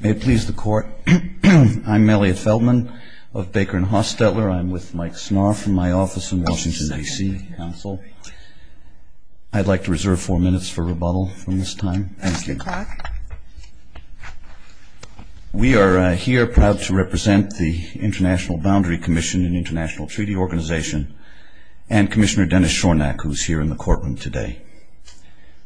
May it please the Court, I'm Elliot Feldman of Baker & Hostetler. I'm with Mike Snarr from my office in Washington, D.C. Council. I'd like to reserve four minutes for rebuttal from this time. Thank you. We are here proud to represent the International Boundary Commission and International Treaty Organization and Commissioner Dennis Shornack, who's here in the courtroom today.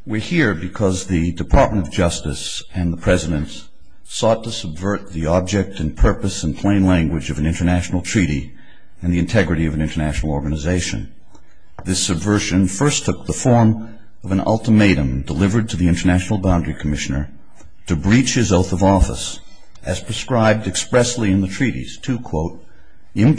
We're here because the Department of Justice and the President sought to subvert the object and purpose and plain language of an international treaty and the integrity of an international organization. This subversion first took the form of an ultimatum delivered to the International Boundary Commissioner to breach his oath of office as prescribed expressly in the treaties to, quote, The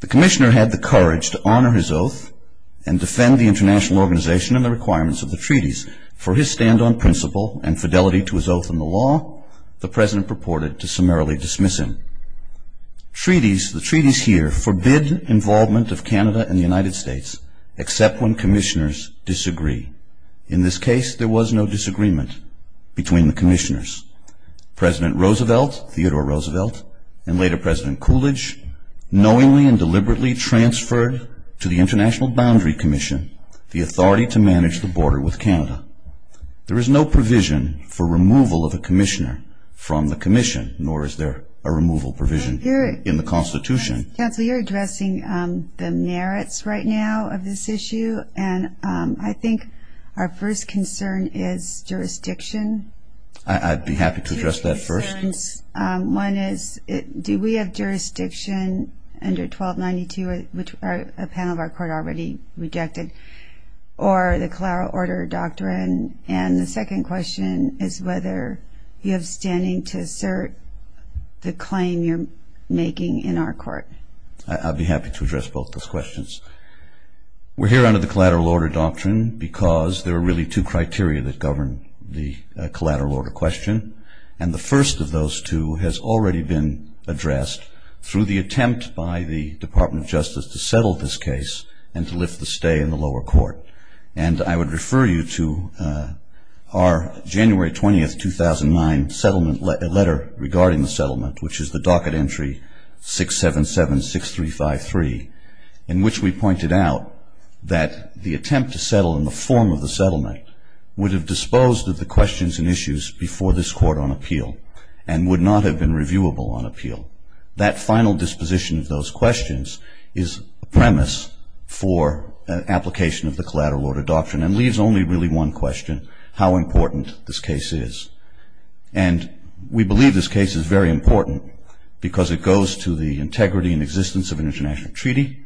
Commissioner had the courage to honor his oath and defend the international organization and the requirements of the treaties. For his stand on principle and fidelity to his oath in the law, the President purported to summarily dismiss him. Treaties, the treaties here, forbid involvement of Canada and the United States except when commissioners disagree. In this case, there was no disagreement between the commissioners. President Roosevelt, Theodore Roosevelt, and later President Coolidge, knowingly and deliberately transferred to the International Boundary Commission the authority to manage the border with Canada. There is no provision for removal of a commissioner from the commission, nor is there a removal provision in the Constitution. Counsel, you're addressing the merits right now of this issue, and I think our first concern is jurisdiction. I'd be happy to address that first. One is, do we have jurisdiction under 1292, which a panel of our court already rejected, or the collateral order doctrine? And the second question is whether you have standing to assert the claim you're making in our court. I'd be happy to address both those questions. We're here under the collateral order doctrine because there are really two criteria that govern the collateral order question, and the first of those two has already been addressed through the attempt by the Department of Justice to settle this case and to lift the stay in the lower court. And I would refer you to our January 20th, 2009 letter regarding the settlement, which is the docket entry 677-6353, in which we pointed out that the attempt to settle in the form of the settlement would have disposed of the questions and issues before this court on appeal and would not have been reviewable on appeal. That final disposition of those questions is a premise for an application of the collateral order doctrine and leaves only really one question, how important this case is. And we believe this case is very important because it goes to the integrity and existence of an international treaty,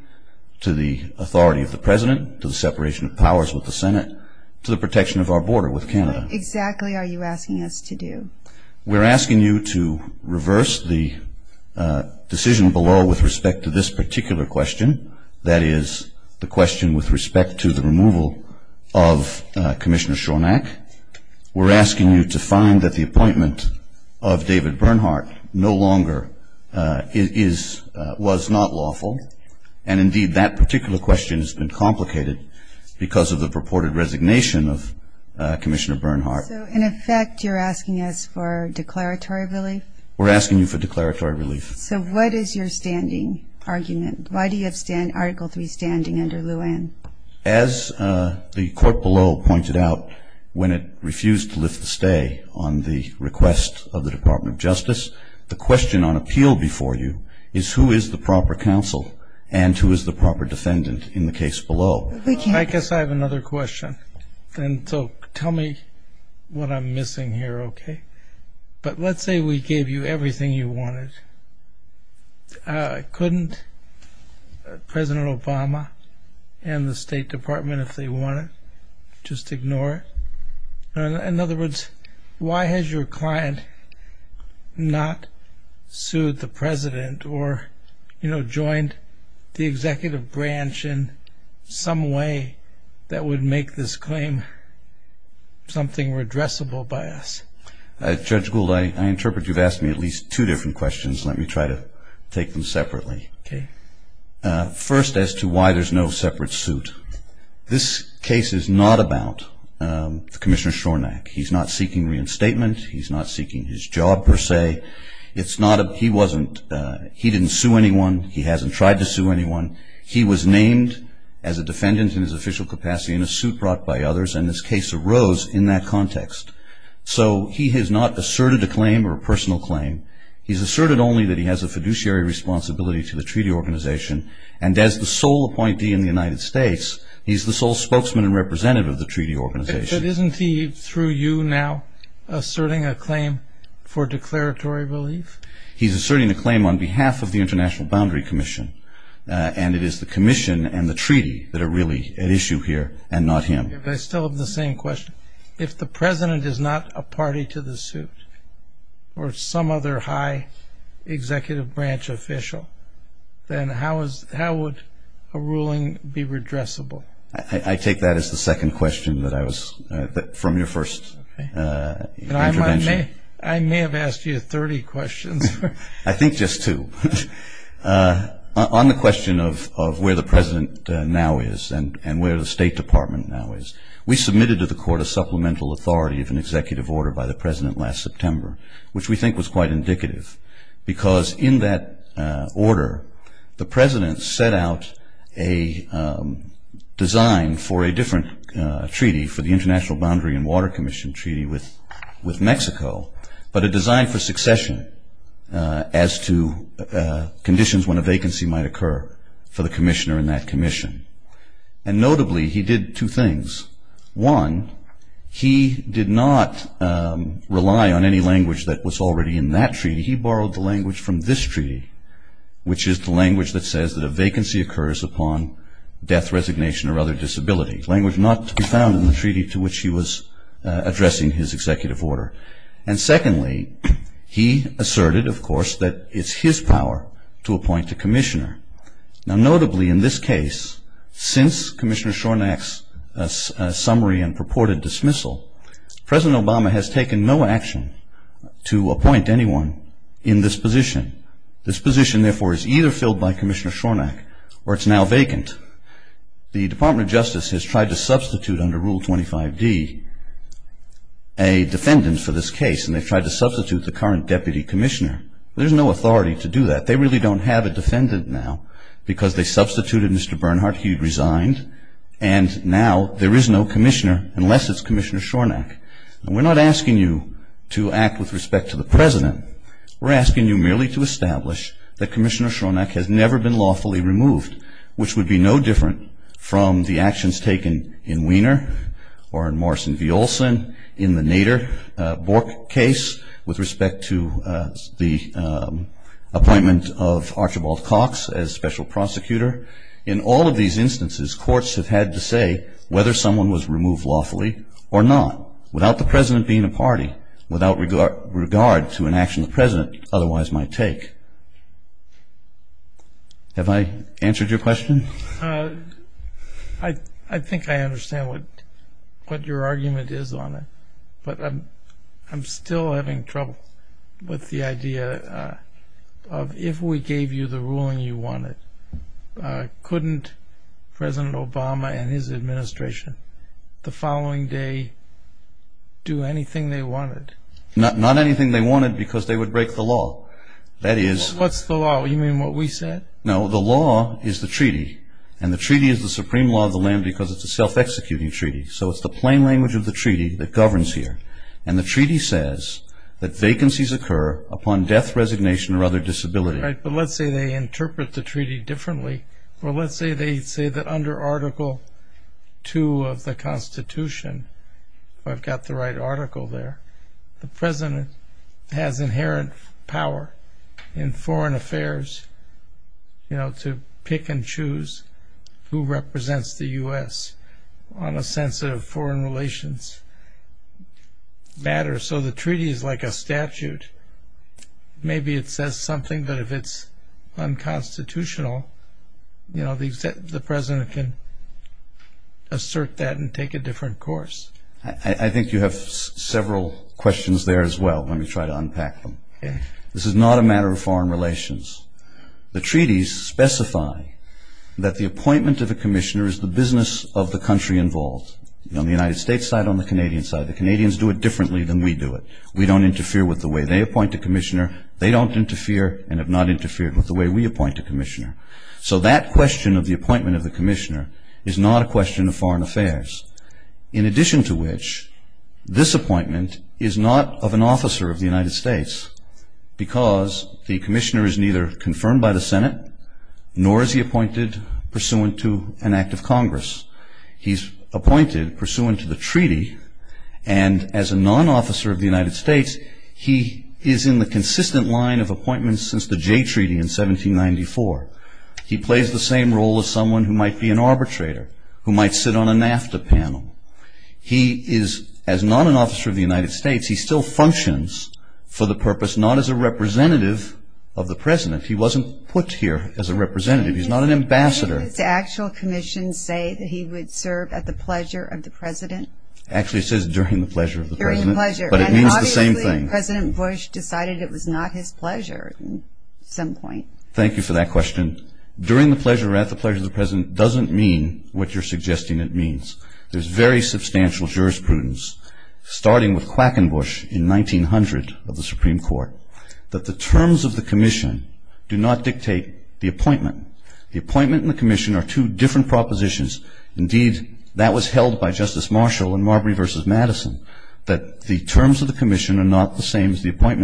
to the authority of the President, to the separation of powers with the Senate, to the protection of our border with Canada. What exactly are you asking us to do? We're asking you to reverse the decision below with respect to this particular question, that is the question with respect to the removal of Commissioner Schornack. We're asking you to find that the appointment of David Bernhardt no longer was not lawful. And, indeed, that particular question has been complicated because of the purported resignation of Commissioner Bernhardt. So, in effect, you're asking us for declaratory relief? We're asking you for declaratory relief. So what is your standing argument? Why do you have Article III standing under Luanne? As the court below pointed out, when it refused to lift the stay on the request of the Department of Justice, the question on appeal before you is who is the proper counsel and who is the proper defendant in the case below. I guess I have another question. And so tell me what I'm missing here, okay? But let's say we gave you everything you wanted. Couldn't President Obama and the State Department, if they wanted, just ignore it? In other words, why has your client not sued the president or, you know, joined the executive branch in some way that would make this claim something redressable by us? Judge Gould, I interpret you've asked me at least two different questions. Let me try to take them separately. Okay. First, as to why there's no separate suit. This case is not about Commissioner Shornack. He's not seeking reinstatement. He's not seeking his job, per se. He didn't sue anyone. He hasn't tried to sue anyone. He was named as a defendant in his official capacity in a suit brought by others, and this case arose in that context. So he has not asserted a claim or a personal claim. He's asserted only that he has a fiduciary responsibility to the treaty organization, and as the sole appointee in the United States, he's the sole spokesman and representative of the treaty organization. But isn't he, through you now, asserting a claim for declaratory relief? He's asserting a claim on behalf of the International Boundary Commission, and it is the commission and the treaty that are really at issue here and not him. I still have the same question. If the president is not a party to the suit or some other high executive branch official, then how would a ruling be redressable? I take that as the second question from your first intervention. I may have asked you 30 questions. I think just two. On the question of where the president now is and where the State Department now is, we submitted to the court a supplemental authority of an executive order by the president last September, which we think was quite indicative, because in that order the president set out a design for a different treaty, for the International Boundary and Water Commission Treaty with Mexico, but a design for succession as to conditions when a vacancy might occur for the commissioner in that commission. And notably, he did two things. One, he did not rely on any language that was already in that treaty. He borrowed the language from this treaty, which is the language that says that a vacancy occurs upon death, resignation, or other disability, language not to be found in the treaty to which he was addressing his executive order. And secondly, he asserted, of course, that it's his power to appoint a commissioner. Now, notably, in this case, since Commissioner Shornack's summary and purported dismissal, President Obama has taken no action to appoint anyone in this position. This position, therefore, is either filled by Commissioner Shornack or it's now vacant. The Department of Justice has tried to substitute under Rule 25D a defendant for this case, and they've tried to substitute the current deputy commissioner. There's no authority to do that. They really don't have a defendant now because they substituted Mr. Bernhardt. He resigned. And now there is no commissioner unless it's Commissioner Shornack. And we're not asking you to act with respect to the president. We're asking you merely to establish that Commissioner Shornack has never been lawfully removed, which would be no different from the actions taken in Wiener or in Morrison v. Olson, in the Nader-Bork case with respect to the appointment of Archibald Cox as special prosecutor. In all of these instances, courts have had to say whether someone was removed lawfully or not, without the president being a party, without regard to an action the president otherwise might take. Have I answered your question? I think I understand what your argument is on it, but I'm still having trouble with the idea of if we gave you the ruling you wanted, couldn't President Obama and his administration the following day do anything they wanted? Not anything they wanted because they would break the law. What's the law? You mean what we said? No, the law is the treaty. And the treaty is the supreme law of the land because it's a self-executing treaty. So it's the plain language of the treaty that governs here. And the treaty says that vacancies occur upon death, resignation, or other disability. Right, but let's say they interpret the treaty differently. Or let's say they say that under Article 2 of the Constitution, if I've got the right article there, the president has inherent power in foreign affairs to pick and choose who represents the U.S. on a sense of foreign relations matter. So the treaty is like a statute. Maybe it says something, but if it's unconstitutional, the president can assert that and take a different course. I think you have several questions there as well. Let me try to unpack them. This is not a matter of foreign relations. The treaties specify that the appointment of a commissioner is the business of the country involved. On the United States side, on the Canadian side, the Canadians do it differently than we do it. We don't interfere with the way they appoint a commissioner. They don't interfere and have not interfered with the way we appoint a commissioner. So that question of the appointment of the commissioner is not a question of foreign affairs. In addition to which, this appointment is not of an officer of the United States because the commissioner is neither confirmed by the Senate nor is he appointed pursuant to an act of Congress. He's appointed pursuant to the treaty, and as a non-officer of the United States, he is in the consistent line of appointments since the Jay Treaty in 1794. He plays the same role as someone who might be an arbitrator, who might sit on a NAFTA panel. He is, as not an officer of the United States, he still functions for the purpose, not as a representative of the president. He wasn't put here as a representative. He's not an ambassador. Did the actual commission say that he would serve at the pleasure of the president? Actually, it says during the pleasure of the president. During pleasure. But it means the same thing. Obviously, President Bush decided it was not his pleasure at some point. Thank you for that question. During the pleasure or at the pleasure of the president doesn't mean what you're suggesting it means. There's very substantial jurisprudence, starting with Quackenbush in 1900 of the Supreme Court, that the terms of the commission do not dictate the appointment. The appointment and the commission are two different propositions. Indeed, that was held by Justice Marshall in Marbury v. Madison, and,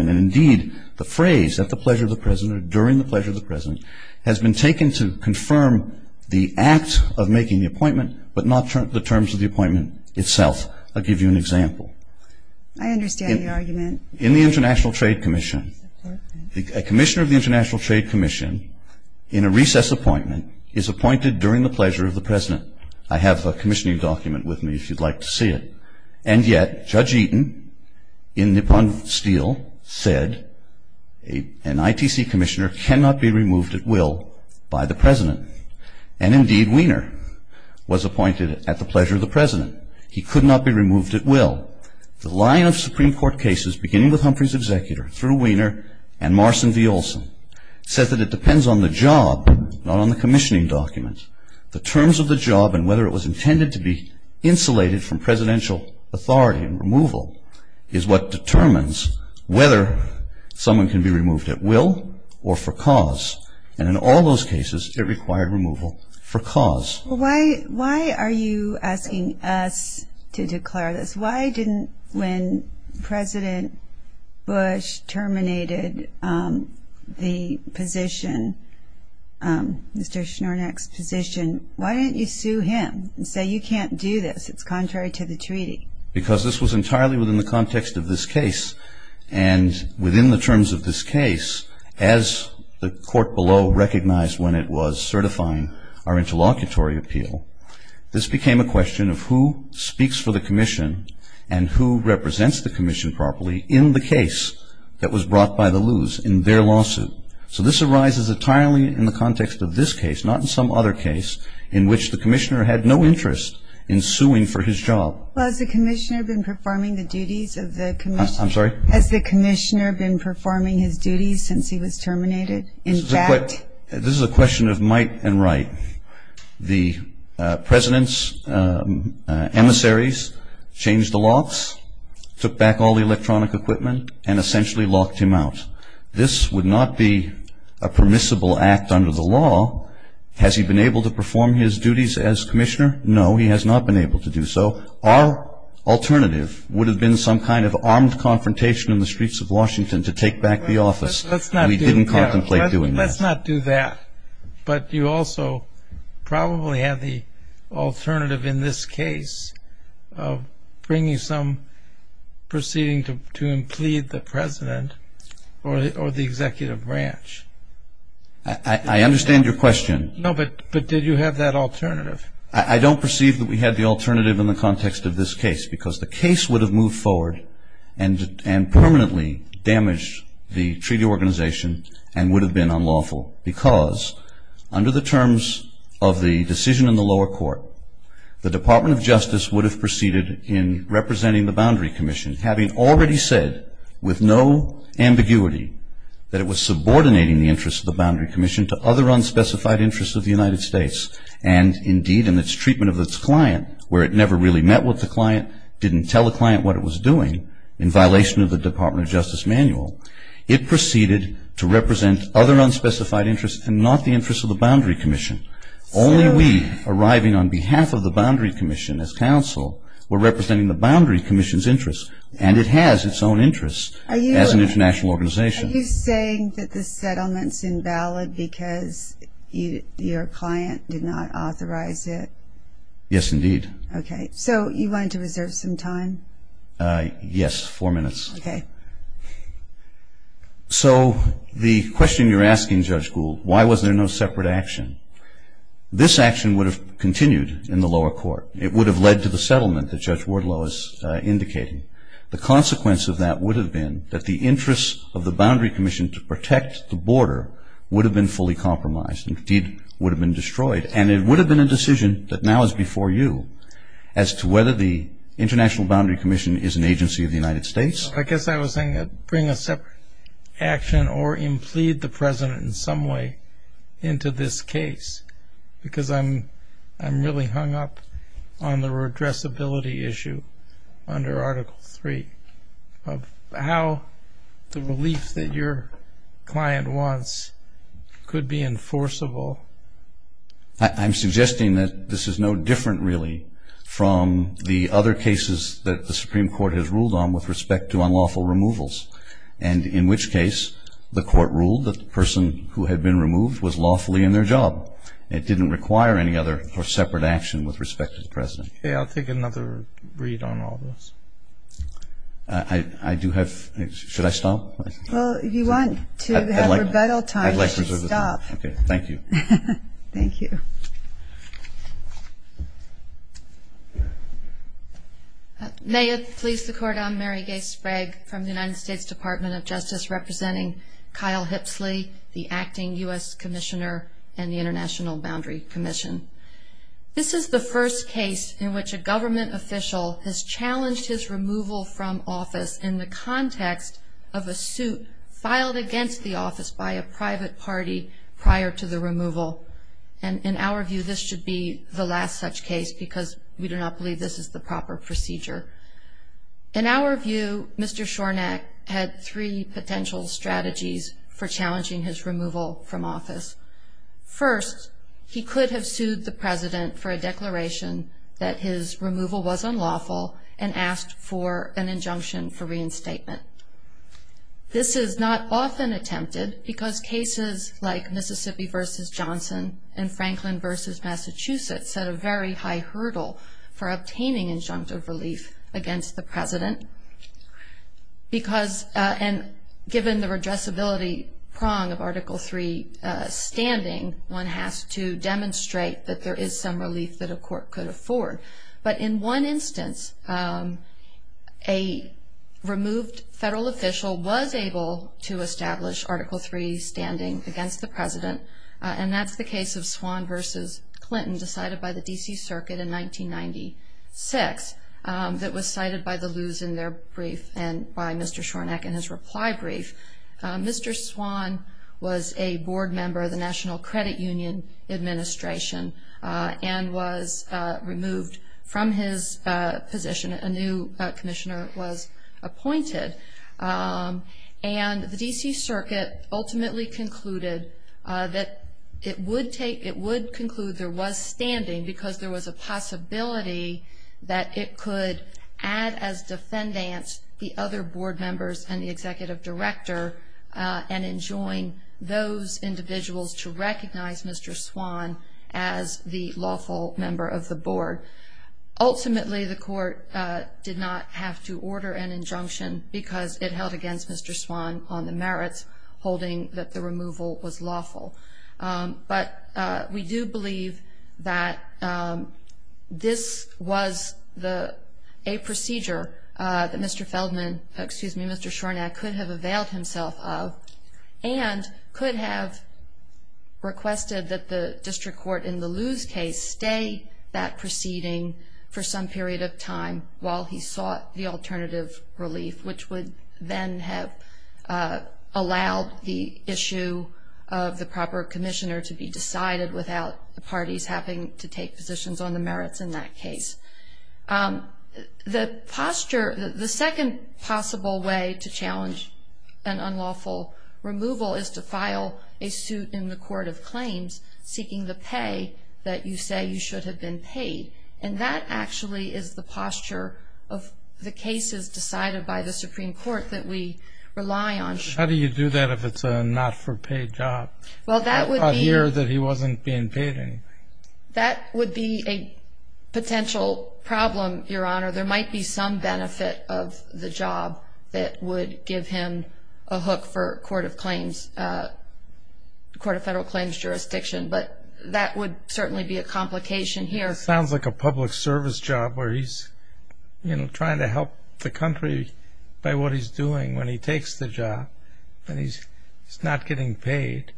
indeed, the phrase at the pleasure of the president or during the pleasure of the president has been taken to confirm the act of making the appointment, but not the terms of the appointment itself. I'll give you an example. I understand your argument. In the International Trade Commission, a commissioner of the International Trade Commission, in a recess appointment, is appointed during the pleasure of the president. I have a commissioning document with me if you'd like to see it. And yet, Judge Eaton in Nippon Steel said, an ITC commissioner cannot be removed at will by the president. And, indeed, Wiener was appointed at the pleasure of the president. He could not be removed at will. The line of Supreme Court cases, beginning with Humphrey's executor, through Wiener, and Marson v. Olson, said that it depends on the job, not on the commissioning document. The terms of the job and whether it was intended to be insulated from presidential authority and removal is what determines whether someone can be removed at will or for cause. And in all those cases, it required removal for cause. Why are you asking us to declare this? Why didn't, when President Bush terminated the position, Mr. Schnornack's position, why didn't you sue him and say you can't do this, it's contrary to the treaty? Because this was entirely within the context of this case. And within the terms of this case, as the court below recognized when it was certifying our interlocutory appeal, this became a question of who speaks for the commission and who represents the commission properly in the case that was brought by the loos in their lawsuit. So this arises entirely in the context of this case, not in some other case, in which the commissioner had no interest in suing for his job. Well, has the commissioner been performing the duties of the commission? I'm sorry? Has the commissioner been performing his duties since he was terminated? This is a question of might and right. The president's emissaries changed the locks, took back all the electronic equipment, and essentially locked him out. This would not be a permissible act under the law. Has he been able to perform his duties as commissioner? No, he has not been able to do so. Our alternative would have been some kind of armed confrontation in the streets of Washington to take back the office. We didn't contemplate doing that. Let's not do that. But you also probably have the alternative in this case of bringing some proceeding to implead the president or the executive branch. I understand your question. No, but did you have that alternative? I don't perceive that we had the alternative in the context of this case because the case would have moved forward and permanently damaged the treaty organization and would have been unlawful because under the terms of the decision in the lower court, the Department of Justice would have proceeded in representing the Boundary Commission, having already said with no ambiguity that it was subordinating the interests of the Boundary Commission to other unspecified interests of the United States and, indeed, in its treatment of its client, where it never really met with the client, didn't tell the client what it was doing, in violation of the Department of Justice manual, it proceeded to represent other unspecified interests and not the interests of the Boundary Commission. Only we, arriving on behalf of the Boundary Commission as counsel, were representing the Boundary Commission's interests, and it has its own interests as an international organization. Are you saying that the settlement's invalid because your client did not authorize it? Yes, indeed. Okay. So you wanted to reserve some time? Yes, four minutes. Okay. So the question you're asking, Judge Gould, why was there no separate action? This action would have continued in the lower court. It would have led to the settlement that Judge Wardlow is indicating. The consequence of that would have been that the interests of the Boundary Commission to protect the border would have been fully compromised and, indeed, would have been destroyed, and it would have been a decision that now is before you as to whether the International Boundary Commission is an agency of the United States. I guess I was saying bring a separate action or implead the President in some way into this case because I'm really hung up on the redressability issue under Article III of how the relief that your client wants could be enforceable. I'm suggesting that this is no different, really, from the other cases that the Supreme Court has ruled on with respect to unlawful removals, and in which case the Court ruled that the person who had been removed was lawfully in their job. It didn't require any other separate action with respect to the President. Okay, I'll take another read on all this. Should I stop? Well, if you want to have rebuttal time, you should stop. Okay, thank you. Thank you. May it please the Court, I'm Mary Gay Sprague from the United States Department of Justice, representing Kyle Hipsley, the acting U.S. Commissioner and the International Boundary Commission. This is the first case in which a government official has challenged his removal from office in the context of a suit filed against the office by a private party prior to the removal. And in our view, this should be the last such case because we do not believe this is the proper procedure. In our view, Mr. Shornack had three potential strategies for challenging his removal from office. First, he could have sued the President for a declaration that his removal was unlawful and asked for an injunction for reinstatement. This is not often attempted because cases like Mississippi v. Johnson and Franklin v. Massachusetts set a very high hurdle for obtaining injunctive relief against the President. And given the redressability prong of Article III standing, one has to demonstrate that there is some relief that a court could afford. But in one instance, a removed federal official was able to establish Article III standing against the President, and that's the case of Swan v. Clinton decided by the D.C. Circuit in 1996 that was cited by the Lews in their brief and by Mr. Shornack in his reply brief. Mr. Swan was a board member of the National Credit Union Administration and was removed from his position. A new commissioner was appointed. And the D.C. Circuit ultimately concluded that it would conclude there was standing because there was a possibility that it could add as defendants the other board members and the executive director and enjoin those individuals to recognize Mr. Swan as the lawful member of the board. Ultimately, the court did not have to order an injunction because it held against Mr. Swan on the merits, holding that the removal was lawful. But we do believe that this was a procedure that Mr. Feldman, excuse me, Mr. Shornack could have availed himself of and could have requested that the district court in the Lews case stay that proceeding for some period of time while he sought the alternative relief, which would then have allowed the issue of the proper commissioner to be decided without the parties having to take positions on the merits in that case. The posture, the second possible way to challenge an unlawful removal is to file a suit in the court of claims seeking the pay that you say you should have been paid. And that actually is the posture of the cases decided by the Supreme Court that we rely on. How do you do that if it's a not-for-pay job? Well, that would be... A year that he wasn't being paid anything. That would be a potential problem, Your Honor. There might be some benefit of the job that would give him a hook for court of claims, court of federal claims jurisdiction, but that would certainly be a complication here. That sounds like a public service job where he's trying to help the country by what he's doing when he takes the job and he's not getting paid.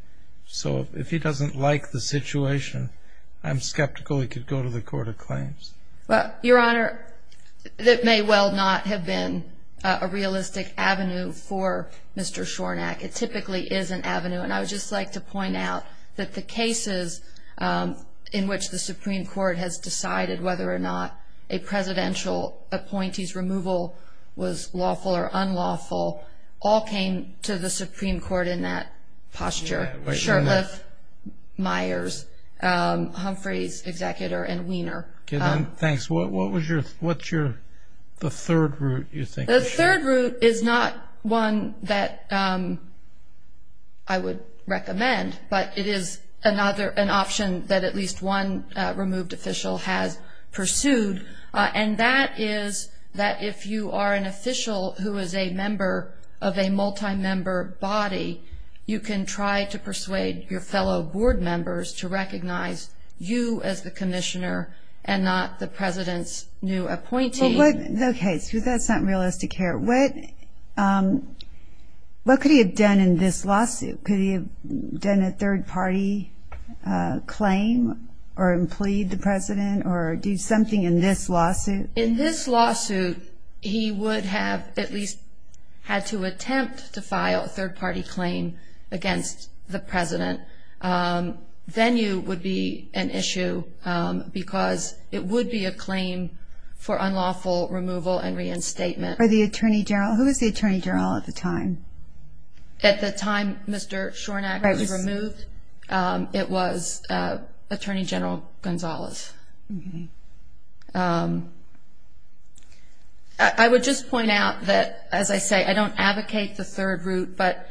So if he doesn't like the situation, I'm skeptical he could go to the court of claims. Well, Your Honor, that may well not have been a realistic avenue for Mr. Shornack. It typically is an avenue. And I would just like to point out that the cases in which the Supreme Court has decided whether or not a presidential appointee's removal was lawful or unlawful all came to the Supreme Court in that posture, Shurtleff, Myers, Humphreys, Executor, and Wiener. Thanks. What's the third route you think? The third route is not one that I would recommend, but it is an option that at least one removed official has pursued, and that is that if you are an official who is a member of a multi-member body, you can try to persuade your fellow board members to recognize you as the commissioner and not the president's new appointee. Okay, so that's not realistic here. What could he have done in this lawsuit? Could he have done a third-party claim or impleed the president or do something in this lawsuit? In this lawsuit, he would have at least had to attempt to file a third-party claim against the president. Then you would be an issue because it would be a claim for unlawful removal and reinstatement. Who was the Attorney General at the time? At the time Mr. Schornack was removed, it was Attorney General Gonzalez. I would just point out that, as I say, I don't advocate the third route, but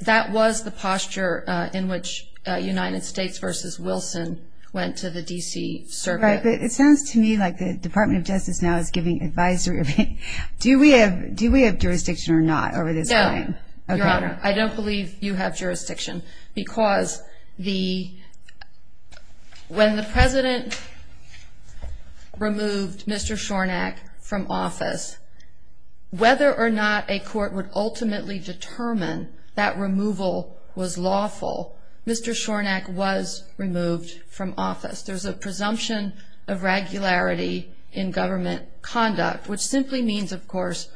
that was the posture in which United States v. Wilson went to the D.C. Circuit. Right, but it sounds to me like the Department of Justice now is giving advisory. Do we have jurisdiction or not over this claim? No, Your Honor. I don't believe you have jurisdiction because when the president removed Mr. Schornack from office, whether or not a court would ultimately determine that removal was lawful, Mr. Schornack was removed from office. There's a presumption of regularity in government conduct, which simply means, of course,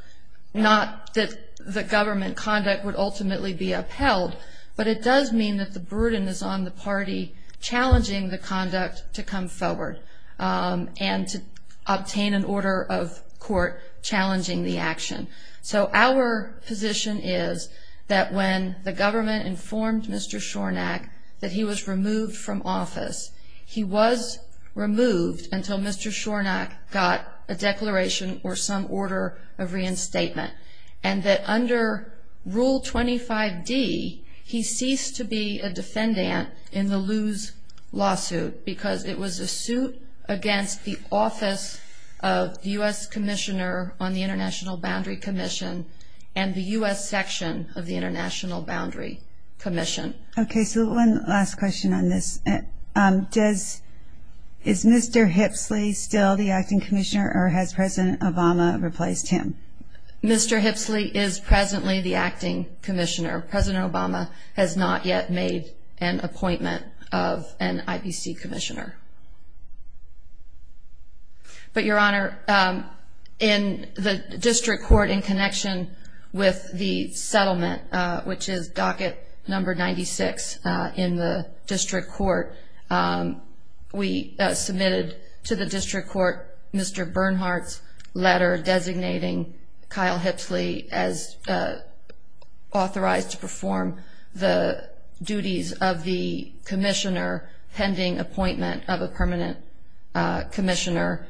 not that the government conduct would ultimately be upheld, but it does mean that the burden is on the party challenging the conduct to come forward and to obtain an order of court challenging the action. So our position is that when the government informed Mr. Schornack that he was removed from office, he was removed until Mr. Schornack got a declaration or some order of reinstatement, and that under Rule 25D, he ceased to be a defendant in the Loos lawsuit because it was a suit against the Office of the U.S. Commissioner on the International Boundary Commission and the U.S. Section of the International Boundary Commission. Okay, so one last question on this. Is Mr. Hipsley still the acting commissioner or has President Obama replaced him? Mr. Hipsley is presently the acting commissioner. President Obama has not yet made an appointment of an IBC commissioner. But, Your Honor, in the district court, in connection with the settlement, which is docket number 96 in the district court, we submitted to the district court Mr. Bernhardt's letter designating Kyle Hipsley as authorized to perform the duties of the commissioner pending appointment of a permanent commissioner.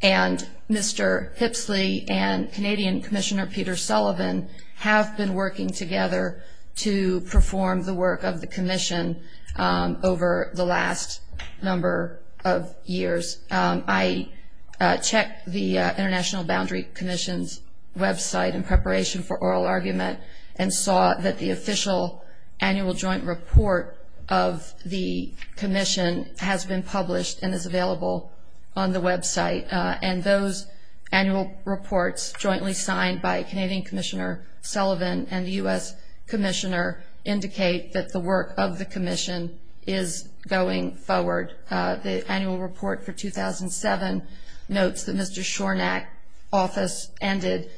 And Mr. Hipsley and Canadian Commissioner Peter Sullivan have been working together to perform the work of the commission over the last number of years. I checked the International Boundary Commission's website in preparation for oral argument and saw that the official annual joint report of the commission has been published and is available on the website. And those annual reports jointly signed by Canadian Commissioner Sullivan and the U.S. Commissioner indicate that the work of the commission is going forward. The annual report for 2007 notes that Mr. Shornack's office ended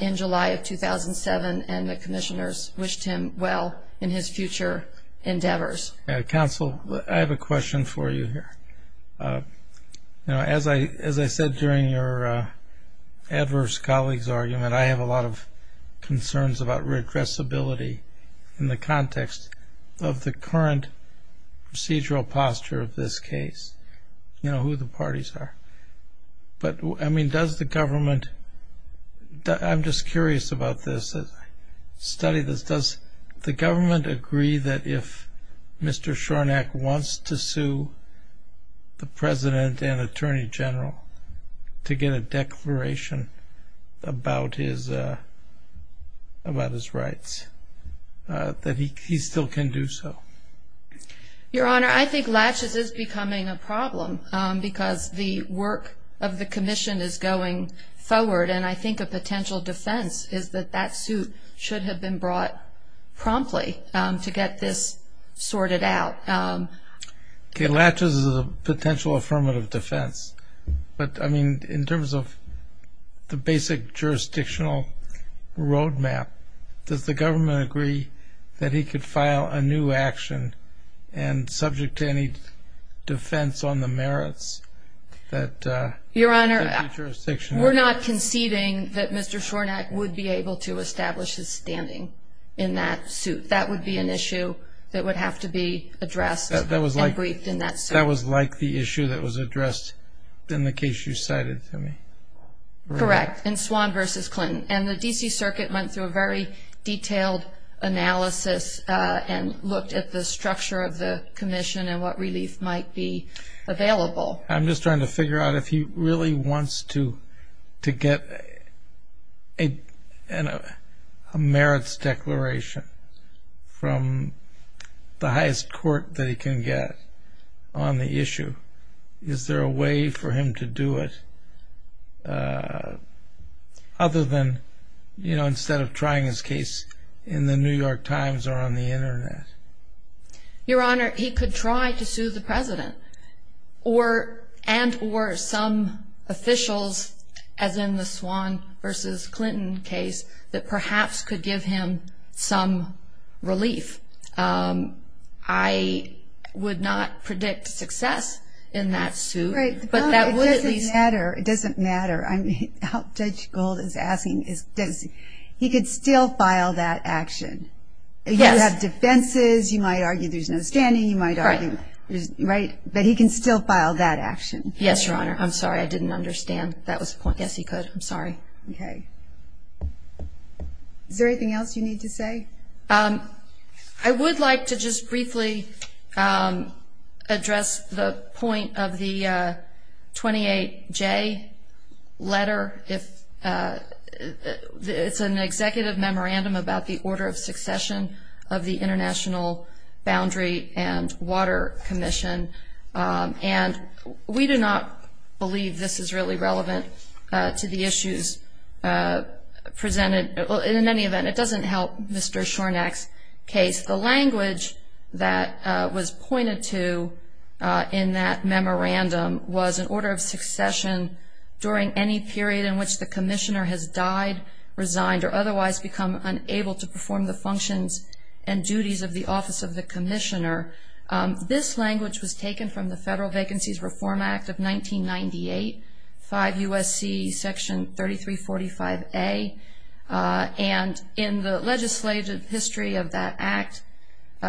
in July of 2007 and the commissioners wished him well in his future endeavors. Counsel, I have a question for you here. As I said during your adverse colleague's argument, I have a lot of concerns about redressability in the context of the current procedural posture of this case, you know, who the parties are. But, I mean, does the government, I'm just curious about this, study this, does the government agree that if Mr. Shornack wants to sue the president and attorney general to get a declaration about his rights, that he still can do so? Your Honor, I think laches is becoming a problem because the work of the commission is going forward and I think a potential defense is that that suit should have been brought promptly to get this sorted out. Okay, laches is a potential affirmative defense. But, I mean, in terms of the basic jurisdictional roadmap, does the government agree that he could file a new action and subject to any defense on the merits? Your Honor, we're not conceding that Mr. Shornack would be able to establish his standing in that suit. That would be an issue that would have to be addressed and briefed in that suit. That was like the issue that was addressed in the case you cited to me. Correct, in Swan v. Clinton. And the D.C. Circuit went through a very detailed analysis and looked at the structure of the commission and what relief might be available. I'm just trying to figure out if he really wants to get a merits declaration from the highest court that he can get on the issue. Is there a way for him to do it other than, you know, instead of trying his case in the New York Times or on the Internet? Your Honor, he could try to sue the President and or some officials, as in the Swan v. Clinton case, that perhaps could give him some relief. I would not predict success in that suit. Right, but it doesn't matter. It doesn't matter. Judge Gold is asking, he could still file that action. Yes. He could have defenses. You might argue there's no standing. Right. But he can still file that action. Yes, Your Honor. I'm sorry. I didn't understand. That was the point. Yes, he could. I'm sorry. Okay. Is there anything else you need to say? I would like to just briefly address the point of the 28J letter. It's an executive memorandum about the order of succession of the International Boundary and Water Commission, and we do not believe this is really relevant to the issues presented. In any event, it doesn't help Mr. Shornack's case. The language that was pointed to in that memorandum was an order of succession during any period in which the commissioner has died, resigned, or otherwise become unable to perform the functions and duties of the office of the commissioner. This language was taken from the Federal Vacancies Reform Act of 1998, 5 U.S.C. Section 3345A, and in the legislative history of that act,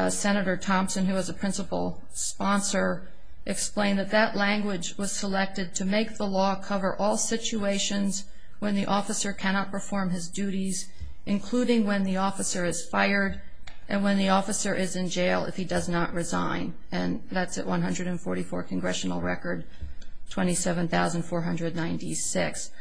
Senator Thompson, who was a principal sponsor, explained that that language was selected to make the law cover all situations when the officer cannot perform his duties, including when the officer is fired and when the officer is in jail if he does not resign. And that's at 144 congressional record, 27,496.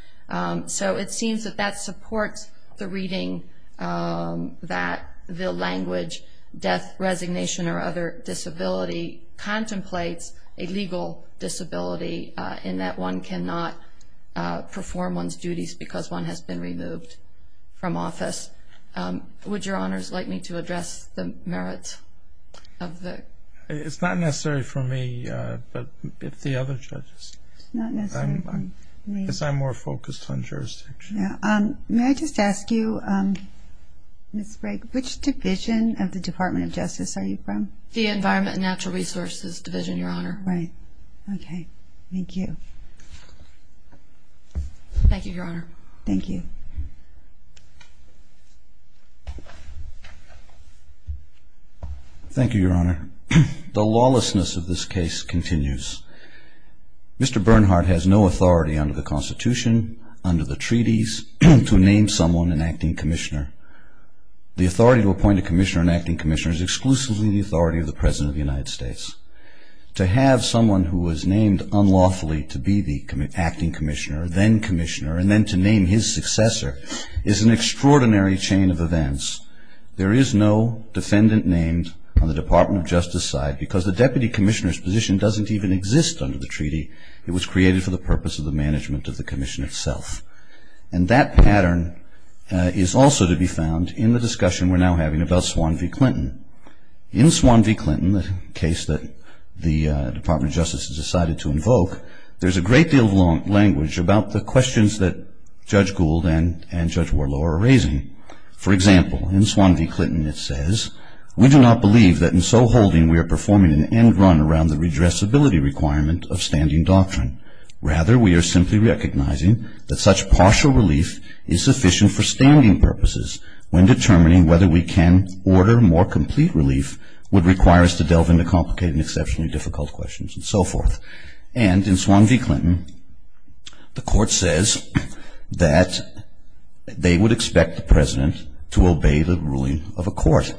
So it seems that that supports the reading that the language, death, resignation, or other disability contemplates a legal disability in that one cannot perform one's duties because one has been removed from office. Would Your Honors like me to address the merits of that? It's not necessary for me, but if the other judges. It's not necessary for me. Because I'm more focused on jurisdiction. May I just ask you, Ms. Bragg, which division of the Department of Justice are you from? The Environment and Natural Resources Division, Your Honor. Right. Okay. Thank you. Thank you, Your Honor. Thank you. Thank you, Your Honor. The lawlessness of this case continues. Mr. Bernhardt has no authority under the Constitution, under the treaties, to name someone an acting commissioner. The authority to appoint a commissioner, an acting commissioner, is exclusively the authority of the President of the United States. To have someone who was named unlawfully to be the acting commissioner, then commissioner, and then to name his successor is an extraordinary chain of events. There is no defendant named on the Department of Justice side because the deputy commissioner's position doesn't even exist under the treaty. It was created for the purpose of the management of the commission itself. And that pattern is also to be found in the discussion we're now having about Swan v. Clinton. In Swan v. Clinton, the case that the Department of Justice has decided to invoke, there's a great deal of language about the questions that Judge Gould and Judge Warlow are raising. For example, in Swan v. Clinton it says, We do not believe that in so holding we are performing an end run around the redressability requirement of standing doctrine. Rather, we are simply recognizing that such partial relief is sufficient for standing purposes when determining whether we can order more complete relief would require us to delve into complicated and exceptionally difficult questions and so forth. And in Swan v. Clinton, the court says that they would expect the President to obey the ruling of a court.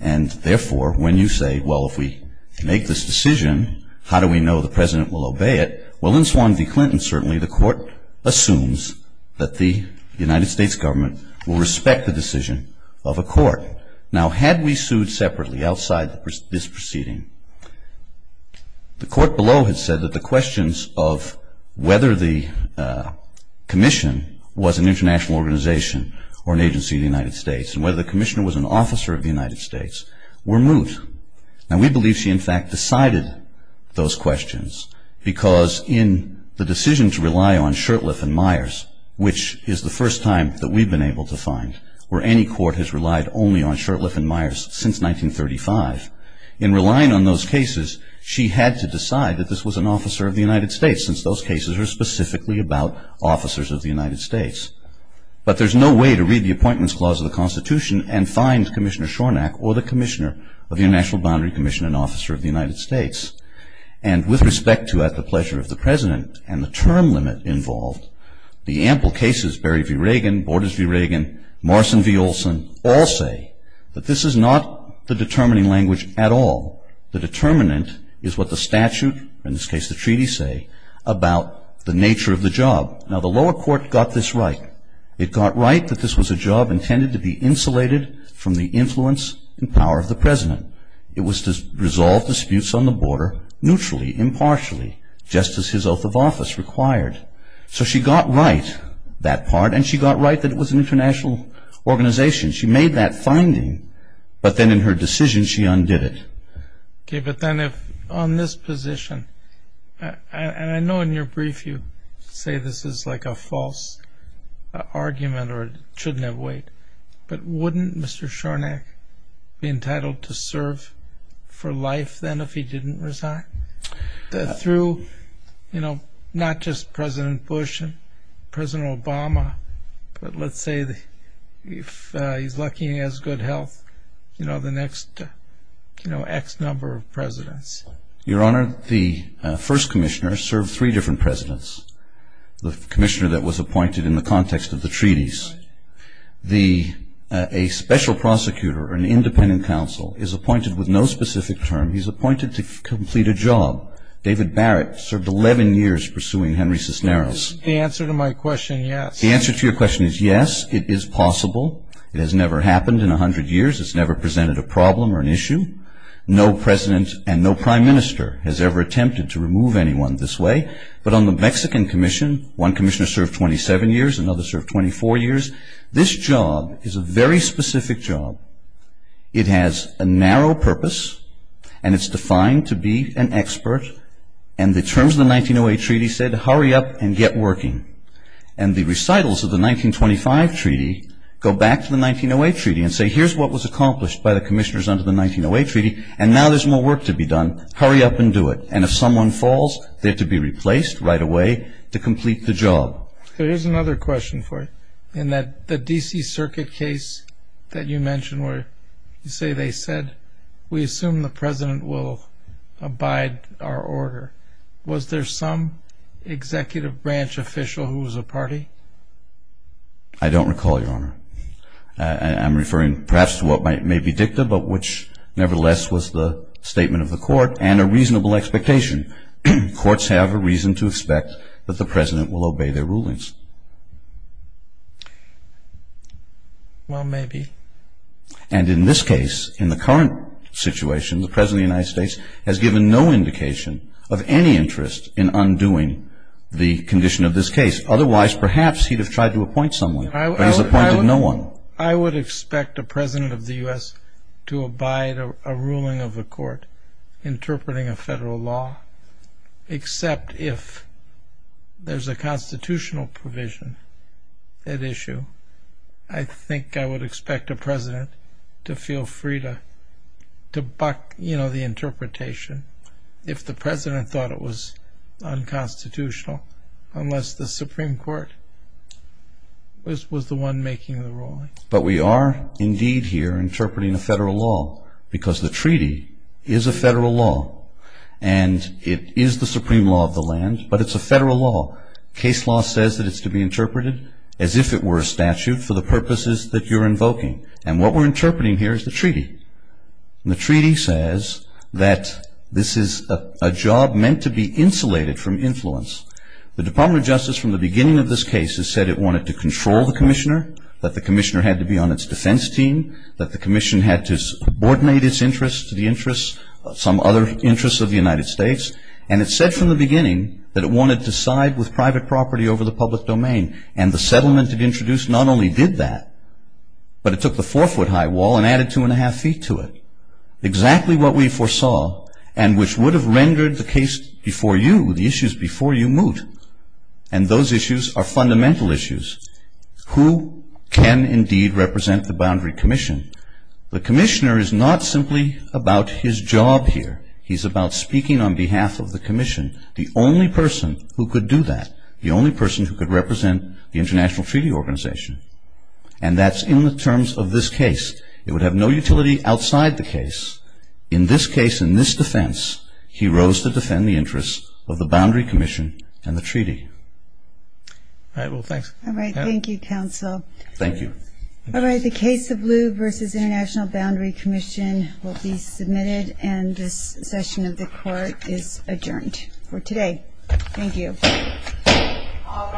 And therefore, when you say, well, if we make this decision, how do we know the President will obey it? Well, in Swan v. Clinton, certainly the court assumes that the United States government will respect the decision of a court. Now, had we sued separately outside this proceeding, the court below had said that the questions of whether the commission was an international organization or an agency of the United States and whether the commissioner was an officer of the United States were moot. Now, we believe she, in fact, decided those questions because in the decision to rely on Shurtleff and Myers, which is the first time that we've been able to find where any court has relied only on Shurtleff and Myers since 1935, in relying on those cases, she had to decide that this was an officer of the United States since those cases are specifically about officers of the United States. But there's no way to read the Appointments Clause of the Constitution and find Commissioner Shornack or the Commissioner of the International Boundary Commission, an officer of the United States. And with respect to at the pleasure of the President and the term limit involved, the ample cases, Berry v. Reagan, Borders v. Reagan, Morrison v. Olson, all say that this is not the determining language at all. The determinant is what the statute, in this case the treaty, say about the nature of the job. Now, the lower court got this right. It got right that this was a job intended to be insulated from the influence and power of the President. It was to resolve disputes on the border neutrally, impartially, just as his oath of office required. So she got right that part, and she got right that it was an international organization. She made that finding, but then in her decision she undid it. Okay, but then if on this position, and I know in your brief you say this is like a false argument or it shouldn't have weight, but wouldn't Mr. Shornack be entitled to serve for life then if he didn't resign? Through, you know, not just President Bush and President Obama, but let's say if he's lucky and he has good health, you know, the next, you know, X number of presidents. Your Honor, the first commissioner served three different presidents, the commissioner that was appointed in the context of the treaties. A special prosecutor or an independent counsel is appointed with no specific term. He's appointed to complete a job. David Barrett served 11 years pursuing Henry Cisneros. The answer to my question, yes. The answer to your question is yes, it is possible. It has never happened in 100 years. It's never presented a problem or an issue. No president and no prime minister has ever attempted to remove anyone this way, but on the Mexican commission, one commissioner served 27 years, another served 24 years. This job is a very specific job. It has a narrow purpose, and it's defined to be an expert, and the terms of the 1908 treaty said, hurry up and get working. And the recitals of the 1925 treaty go back to the 1908 treaty and say, here's what was accomplished by the commissioners under the 1908 treaty, and now there's more work to be done. Hurry up and do it. And if someone falls, they're to be replaced right away to complete the job. Here's another question for you. In the D.C. Circuit case that you mentioned where you say they said, we assume the president will abide our order, was there some executive branch official who was a party? I don't recall, Your Honor. I'm referring perhaps to what may be dicta, but which nevertheless was the statement of the court and a reasonable expectation. Courts have a reason to expect that the president will obey their rulings. Well, maybe. And in this case, in the current situation, the president of the United States has given no indication of any interest in undoing the condition of this case. Otherwise, perhaps he'd have tried to appoint someone, but he's appointed no one. I would expect a president of the U.S. to abide a ruling of the court interpreting a federal law, except if there's a constitutional provision at issue. I think I would expect a president to feel free to buck the interpretation if the president thought it was unconstitutional, unless the Supreme Court was the one making the ruling. But we are indeed here interpreting a federal law because the treaty is a federal law, and it is the supreme law of the land, but it's a federal law. Case law says that it's to be interpreted as if it were a statute for the purposes that you're invoking. And what we're interpreting here is the treaty. And the treaty says that this is a job meant to be insulated from influence. The Department of Justice, from the beginning of this case, has said it wanted to control the commissioner, that the commissioner had to be on its defense team, that the commission had to subordinate its interests to the interests of some other interests of the United States. And it said from the beginning that it wanted to side with private property over the public domain. And the settlement it introduced not only did that, but it took the four-foot-high wall and added two-and-a-half feet to it. Exactly what we foresaw, and which would have rendered the case before you, the issues before you, moot. And those issues are fundamental issues. Who can indeed represent the boundary commission? The commissioner is not simply about his job here. He's about speaking on behalf of the commission, the only person who could do that, the only person who could represent the International Treaty Organization. And that's in the terms of this case. It would have no utility outside the case. In this case, in this defense, he rose to defend the interests of the boundary commission and the treaty. All right. Well, thanks. All right. Thank you, counsel. Thank you. All right. The case of Blue v. International Boundary Commission will be submitted, and this session of the court is adjourned for today. Thank you. All rise.